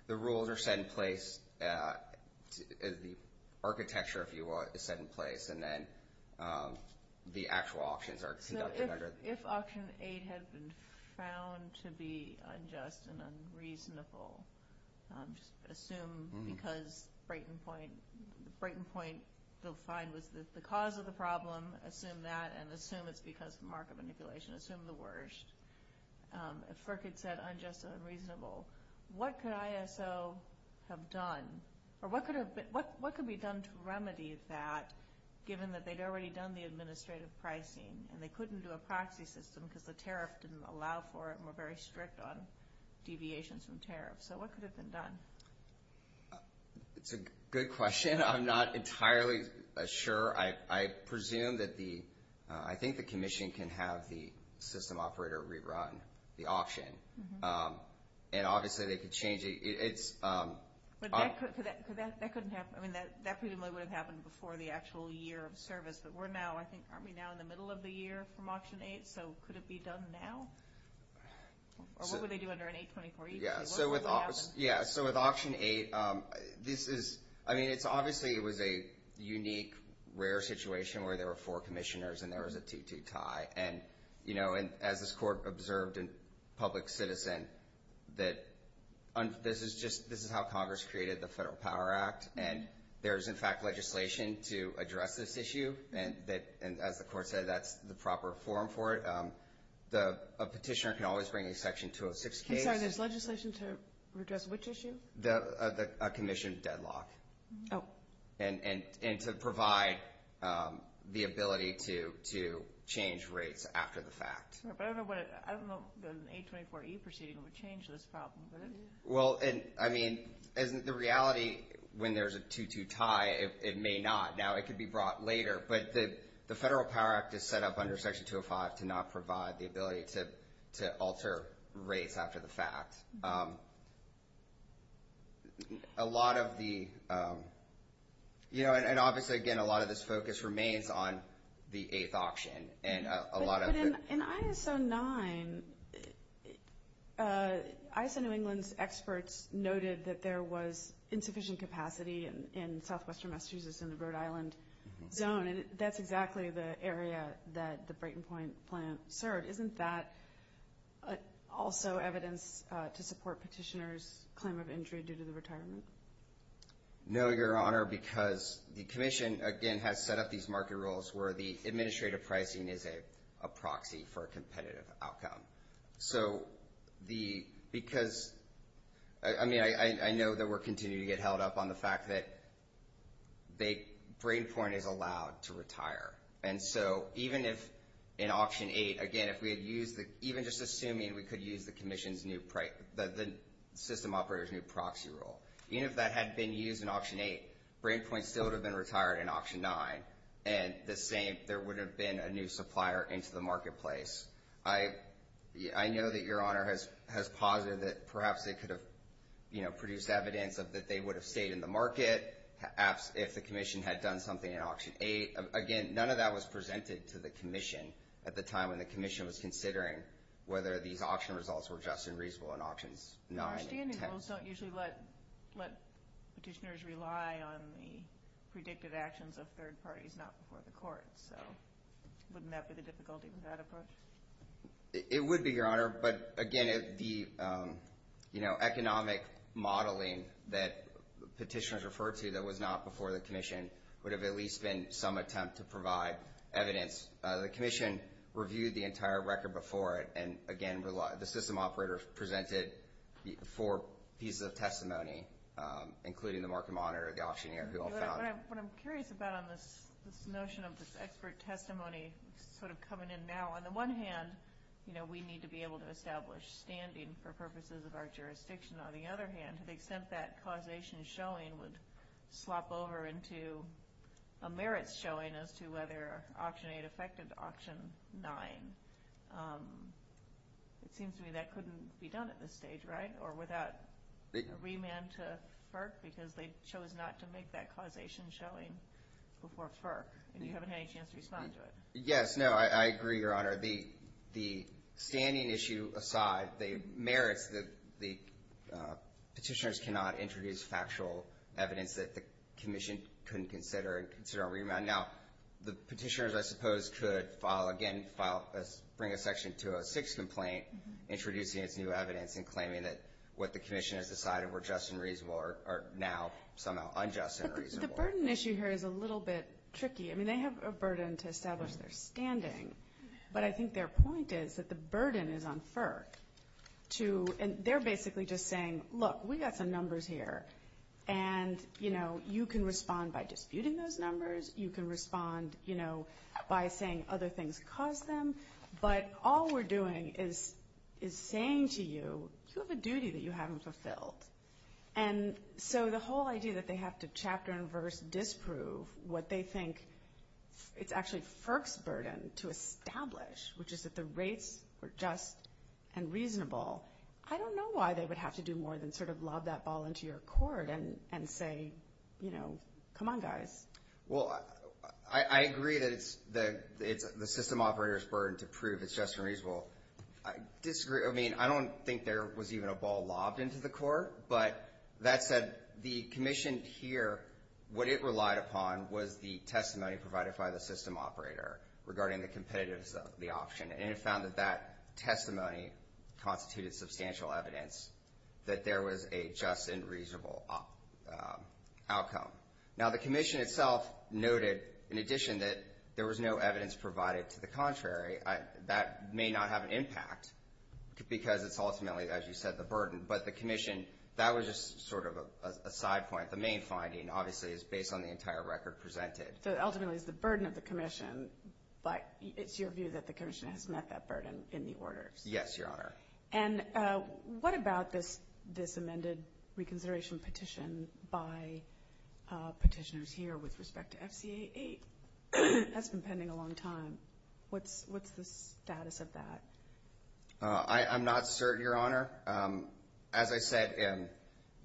the rules are set in place, the architecture, if you will, is set in place, and then the actual auctions are conducted under. So if Auction 8 had been found to be unjust and unreasonable, just assume because Brayton Point, Brayton Point, they'll find, was the cause of the problem, assume that, and assume it's because of market manipulation, assume the worst. If FERC had said unjust and unreasonable, what could ISO have done? Or what could be done to remedy that, given that they'd already done the administrative pricing and they couldn't do a proxy system because the tariff didn't allow for it and were very strict on deviations from tariff? So what could have been done? It's a good question. I'm not entirely sure. I presume that the – I think the commission can have the system operator rerun the auction, and obviously they could change it. It's – But that couldn't have – I mean, that presumably would have happened before the actual year of service, but we're now, I think, aren't we now in the middle of the year from Auction 8? So could it be done now? Or what would they do under an 8-24? Yeah, so with Auction 8, this is – I mean, it's obviously, it was a unique, rare situation where there were four commissioners and there was a 2-2 tie. And, you know, as this court observed in Public Citizen, that this is just – this is how Congress created the Federal Power Act. And there is, in fact, legislation to address this issue, and as the court said, that's the proper form for it. A petitioner can always bring a Section 206 case. I'm sorry, there's legislation to address which issue? A commission deadlock. Oh. And to provide the ability to change rates after the fact. But I don't know what – I don't know if an 8-24E proceeding would change this problem. Well, I mean, the reality when there's a 2-2 tie, it may not. Now, it could be brought later. But the Federal Power Act is set up under Section 205 to not provide the ability to alter rates after the fact. A lot of the – you know, and obviously, again, a lot of this focus remains on the eighth auction and a lot of the – But in ISO 9, ISO New England's experts noted that there was insufficient capacity in southwestern Massachusetts in the Rhode Island zone, and that's exactly the area that the Brayton Point plant served. Isn't that also evidence to support petitioners' claim of injury due to the retirement? No, Your Honor, because the commission, again, has set up these market rules where the administrative pricing is a proxy for a competitive outcome. So the – because – I mean, I know that we're continuing to get held up on the fact that Brayton Point is allowed to retire. And so even if in Auction 8, again, if we had used the – even just assuming we could use the commission's new – the system operator's new proxy rule, even if that had been used in Auction 8, Brayton Point still would have been retired in Auction 9, and the same – there would have been a new supplier into the marketplace. I know that Your Honor has posited that perhaps they could have, you know, produced evidence that they would have stayed in the market if the commission had done something in Auction 8. Again, none of that was presented to the commission at the time when the commission was considering whether these auction results were just and reasonable in Auctions 9 and 10. And our standing rules don't usually let petitioners rely on the predictive actions of third parties, not before the court. So wouldn't that be the difficulty with that approach? It would be, Your Honor, but again, the, you know, economic modeling that petitioners referred to that was not before the commission would have at least been some attempt to provide evidence. The commission reviewed the entire record before it, and again the system operator presented four pieces of testimony, including the market monitor, the auctioneer, who all found it. What I'm curious about on this notion of this expert testimony sort of coming in now, on the one hand, you know, we need to be able to establish standing for purposes of our jurisdiction. On the other hand, to the extent that causation showing would swap over into a merits showing as to whether Auction 8 affected Auction 9, it seems to me that couldn't be done at this stage, right, or without a remand to FERC because they chose not to make that causation showing before FERC, and you haven't had any chance to respond to it. Yes, no, I agree, Your Honor. Your Honor, the standing issue aside, the merits that the petitioners cannot introduce factual evidence that the commission couldn't consider and consider a remand. Now, the petitioners, I suppose, could file, again, bring a Section 206 complaint, introducing its new evidence and claiming that what the commission has decided were just and reasonable are now somehow unjust and reasonable. The burden issue here is a little bit tricky. I mean, they have a burden to establish their standing, but I think their point is that the burden is on FERC to, and they're basically just saying, look, we've got some numbers here, and, you know, you can respond by disputing those numbers. You can respond, you know, by saying other things caused them, but all we're doing is saying to you, you have a duty that you haven't fulfilled. And so the whole idea that they have to chapter and verse disprove what they think it's actually FERC's burden to establish, which is that the rates were just and reasonable, I don't know why they would have to do more than sort of lob that ball into your court and say, you know, come on, guys. Well, I agree that it's the system operator's burden to prove it's just and reasonable. I disagree. I mean, I don't think there was even a ball lobbed into the court, but that said, the commission here, what it relied upon was the testimony provided by the system operator regarding the competitiveness of the option, and it found that that testimony constituted substantial evidence that there was a just and reasonable outcome. Now, the commission itself noted, in addition, that there was no evidence provided to the contrary. That may not have an impact because it's ultimately, as you said, the burden, but the commission, that was just sort of a side point. The main finding, obviously, is based on the entire record presented. So ultimately it's the burden of the commission, but it's your view that the commission has met that burden in the orders? Yes, Your Honor. And what about this amended reconsideration petition by petitioners here with respect to FCA 8? That's been pending a long time. What's the status of that? I'm not certain, Your Honor. As I said,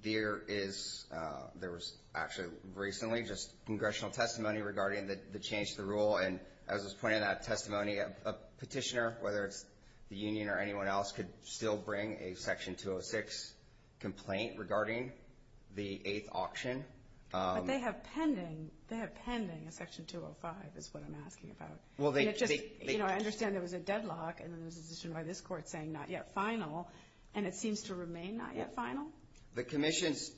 there was actually recently just congressional testimony regarding the change to the rule, and as was pointed out, testimony of a petitioner, whether it's the union or anyone else, could still bring a Section 206 complaint regarding the eighth option. But they have pending a Section 205 is what I'm asking about. I understand there was a deadlock, and then there was a petition by this court saying not yet final, and it seems to remain not yet final? The commission's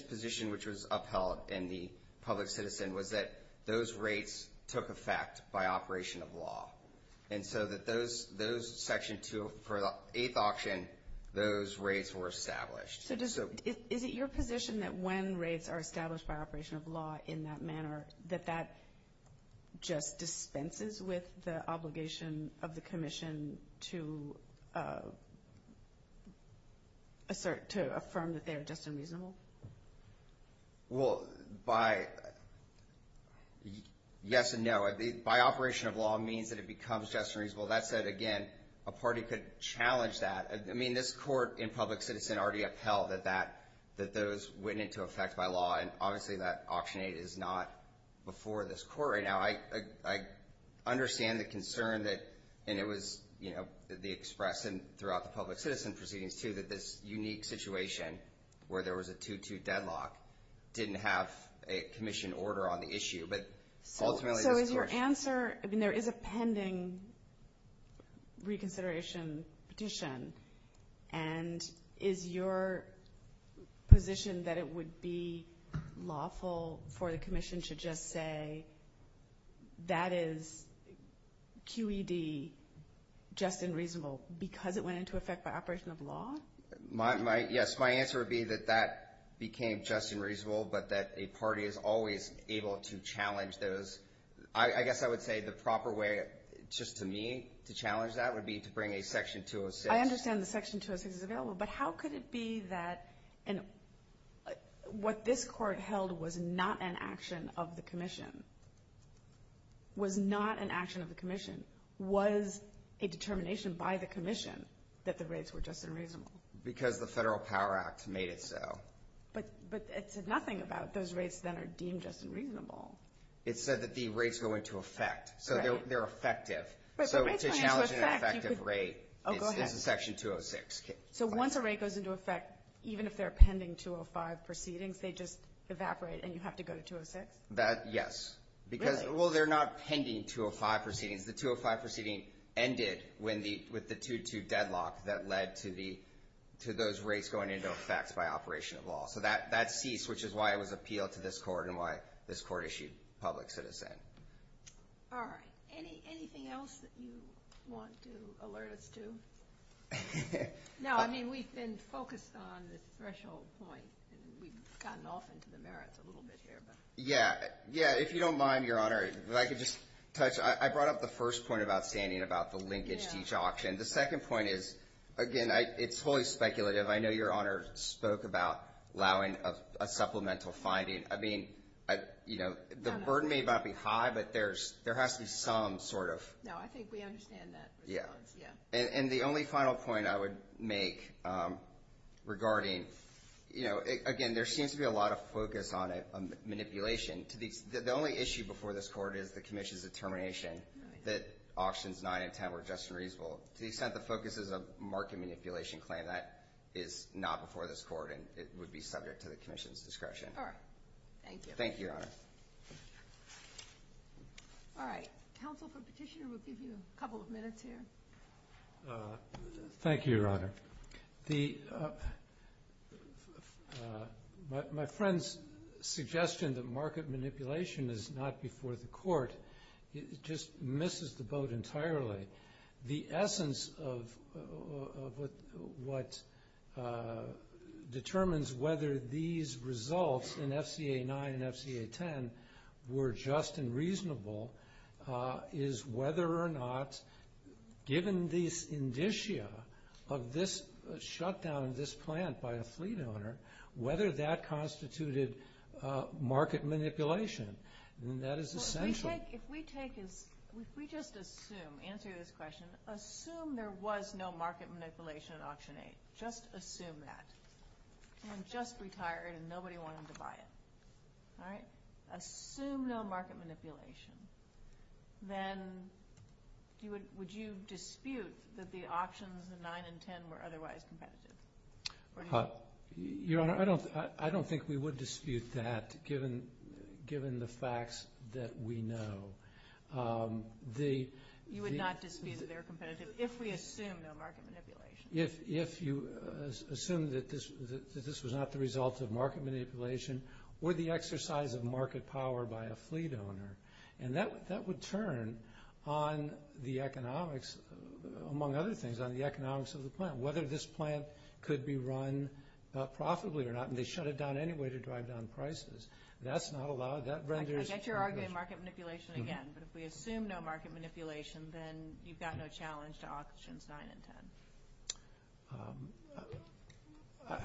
position, which was upheld in the public citizen, was that those rates took effect by operation of law, and so for the eighth option, those rates were established. Is it your position that when rates are established by operation of law in that manner, that that just dispenses with the obligation of the commission to assert, to affirm that they are just and reasonable? Well, by yes and no, by operation of law means that it becomes just and reasonable. That said, again, a party could challenge that. I mean, this court in public citizen already upheld that those went into effect by law, and obviously that option eight is not before this court right now. I understand the concern that, and it was, you know, the express and throughout the public citizen proceedings too, that this unique situation where there was a 2-2 deadlock didn't have a commission order on the issue. So is your answer, I mean, there is a pending reconsideration petition, and is your position that it would be lawful for the commission to just say that is QED just and reasonable because it went into effect by operation of law? Yes, my answer would be that that became just and reasonable, but that a party is always able to challenge those. I guess I would say the proper way just to me to challenge that would be to bring a Section 206. I understand the Section 206 is available, but how could it be that what this court held was not an action of the commission, was not an action of the commission, was a determination by the commission that the rates were just and reasonable? Because the Federal Power Act made it so. But it said nothing about those rates that are deemed just and reasonable. It said that the rates go into effect. Right. So they're effective. So to challenge an effective rate, it's a Section 206. So once a rate goes into effect, even if they're pending 205 proceedings, they just evaporate and you have to go to 206? Yes. Really? Well, they're not pending 205 proceedings. The 205 proceeding ended with the 2-2 deadlock that led to those rates going into effect by operation of law. So that ceased, which is why it was appealed to this court and why this court issued public sentencing. All right. Anything else that you want to alert us to? No. I mean, we've been focused on the threshold point. We've gotten off into the merits a little bit here. Yeah. Yeah. If you don't mind, Your Honor, if I could just touch. I brought up the first point of outstanding about the linkage to each auction. The second point is, again, it's wholly speculative. I know Your Honor spoke about allowing a supplemental finding. I mean, you know, the burden may not be high, but there has to be some sort of. No, I think we understand that. Yeah. And the only final point I would make regarding, you know, again, there seems to be a lot of focus on manipulation. The only issue before this court is the commission's determination that auctions 9 and 10 were just and reasonable. To the extent the focus is a market manipulation claim, that is not before this court, and it would be subject to the commission's discretion. All right. Thank you. Thank you, Your Honor. All right. Counsel for Petitioner will give you a couple of minutes here. Thank you, Your Honor. My friend's suggestion that market manipulation is not before the court just misses the boat entirely. The essence of what determines whether these results in FCA 9 and FCA 10 were just and reasonable is whether or not, given the indicia of this shutdown of this plant by a fleet owner, whether that constituted market manipulation. And that is essential. If we just assume, answer this question, assume there was no market manipulation at Auction 8, just assume that, and just retire it and nobody wanted to buy it, all right, assume no market manipulation, then would you dispute that the auctions in 9 and 10 were otherwise competitive? Your Honor, I don't think we would dispute that given the facts that we know. You would not dispute that they're competitive if we assume no market manipulation? If you assume that this was not the result of market manipulation or the exercise of market power by a fleet owner. And that would turn on the economics, among other things, on the economics of the plant, whether this plant could be run profitably or not, and they shut it down anyway to drive down prices. That's not allowed. I get you're arguing market manipulation again, but if we assume no market manipulation, then you've got no challenge to Auctions 9 and 10.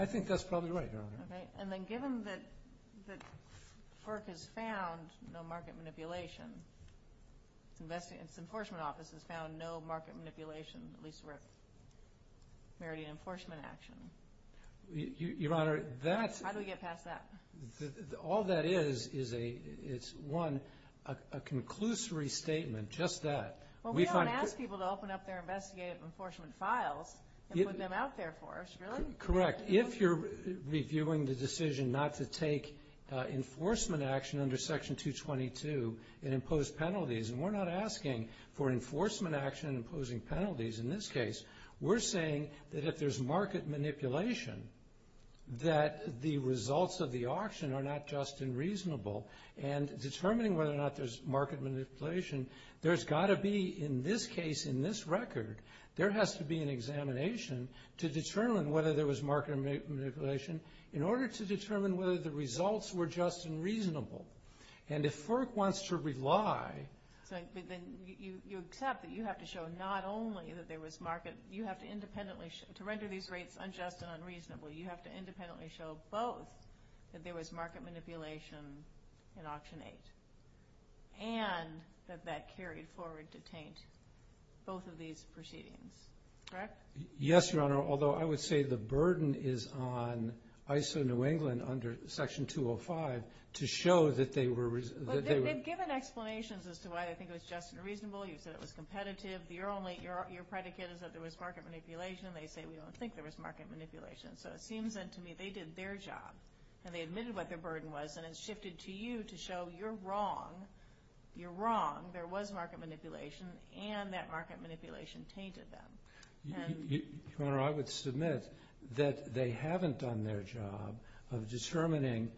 And then given that FERC has found no market manipulation, its enforcement office has found no market manipulation, at least for a meriting enforcement action, how do we get past that? All that is is, one, a conclusory statement, just that. Well, we don't ask people to open up their investigative enforcement files and put them out there for us, really. Correct. If you're reviewing the decision not to take enforcement action under Section 222 and impose penalties, and we're not asking for enforcement action and imposing penalties in this case, we're saying that if there's market manipulation, that the results of the auction are not just unreasonable. And determining whether or not there's market manipulation, there's got to be, in this case, in this record, there has to be an examination to determine whether there was market manipulation in order to determine whether the results were just and reasonable. And if FERC wants to rely… But then you accept that you have to show not only that there was market, you have to independently show, to render these rates unjust and unreasonable, you have to independently show both that there was market manipulation in Auction 8 and that that carried forward to taint both of these proceedings. Correct? Yes, Your Honor, although I would say the burden is on ISO New England under Section 205 to show that they were… But they've given explanations as to why they think it was just and reasonable. You said it was competitive. Your predicate is that there was market manipulation. They say we don't think there was market manipulation. So it seems then to me they did their job, and they admitted what their burden was, and it's shifted to you to show you're wrong. You're wrong. There was market manipulation, and that market manipulation tainted them. Your Honor, I would submit that they haven't done their job of determining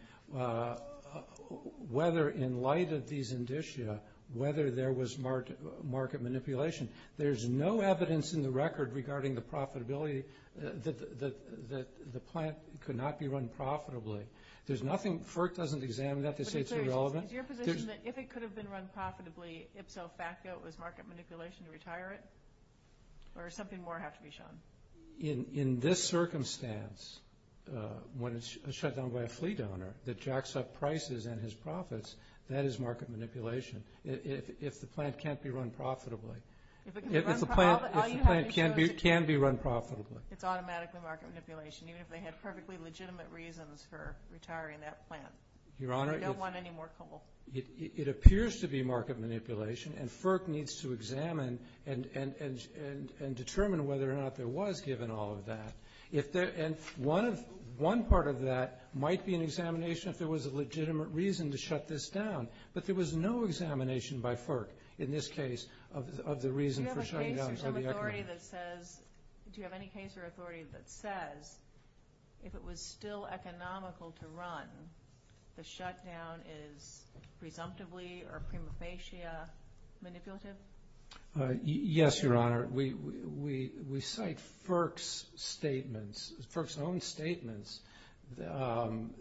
whether, in light of these indicia, whether there was market manipulation. There's no evidence in the record regarding the profitability that the plant could not be run profitably. There's nothing. FERC doesn't examine that. They say it's irrelevant. Is your position that if it could have been run profitably, ipso facto it was market manipulation to retire it, or does something more have to be shown? In this circumstance, when it's shut down by a fleet owner that jacks up prices and his profits, that is market manipulation if the plant can't be run profitably. If the plant can be run profitably. It's automatically market manipulation, even if they had perfectly legitimate reasons for retiring that plant. Your Honor, it appears to be market manipulation, and FERC needs to examine and determine whether or not there was given all of that. And one part of that might be an examination if there was a legitimate reason to shut this down, but there was no examination by FERC in this case of the reason for shutting down. Do you have any case or authority that says if it was still economical to run, the shutdown is presumptively or prima facie manipulative? Yes, Your Honor. We cite FERC's statements, FERC's own statements, and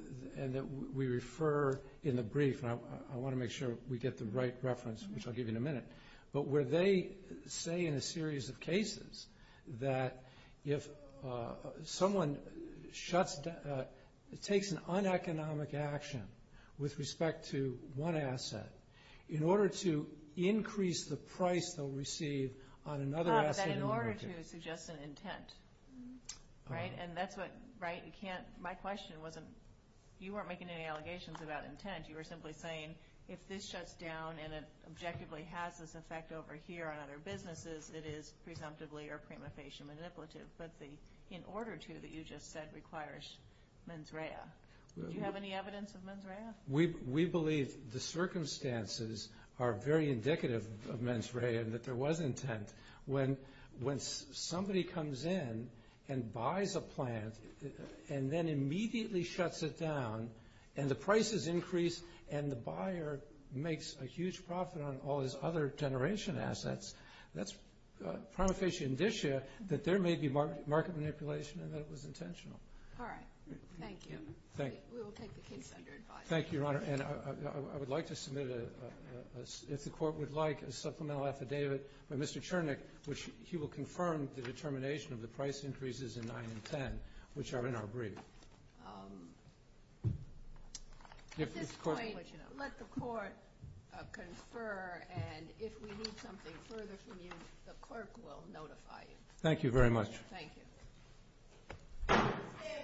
that we refer in the brief. I want to make sure we get the right reference, which I'll give you in a minute. But where they say in a series of cases that if someone shuts down, takes an uneconomic action with respect to one asset, in order to increase the price they'll receive on another asset in the market. In order to suggest an intent, right? And that's what, right? You can't, my question wasn't, you weren't making any allegations about intent. You were simply saying if this shuts down and it objectively has this effect over here on other businesses, it is presumptively or prima facie manipulative. But the in order to that you just said requires mens rea. Do you have any evidence of mens rea? We believe the circumstances are very indicative of mens rea and that there was intent. When somebody comes in and buys a plant and then immediately shuts it down and the prices increase and the buyer makes a huge profit on all his other generation assets, that's prima facie indicia that there may be market manipulation and that it was intentional. All right. Thank you. Thank you. We will take the case under advice. Thank you, Your Honor. And I would like to submit a, if the Court would like, a supplemental affidavit by Mr. Chernick, which he will confirm the determination of the price increases in 9 and 10, which are in our brief. At this point, let the Court confer and if we need something further from you, the clerk will notify you. Thank you very much. Thank you.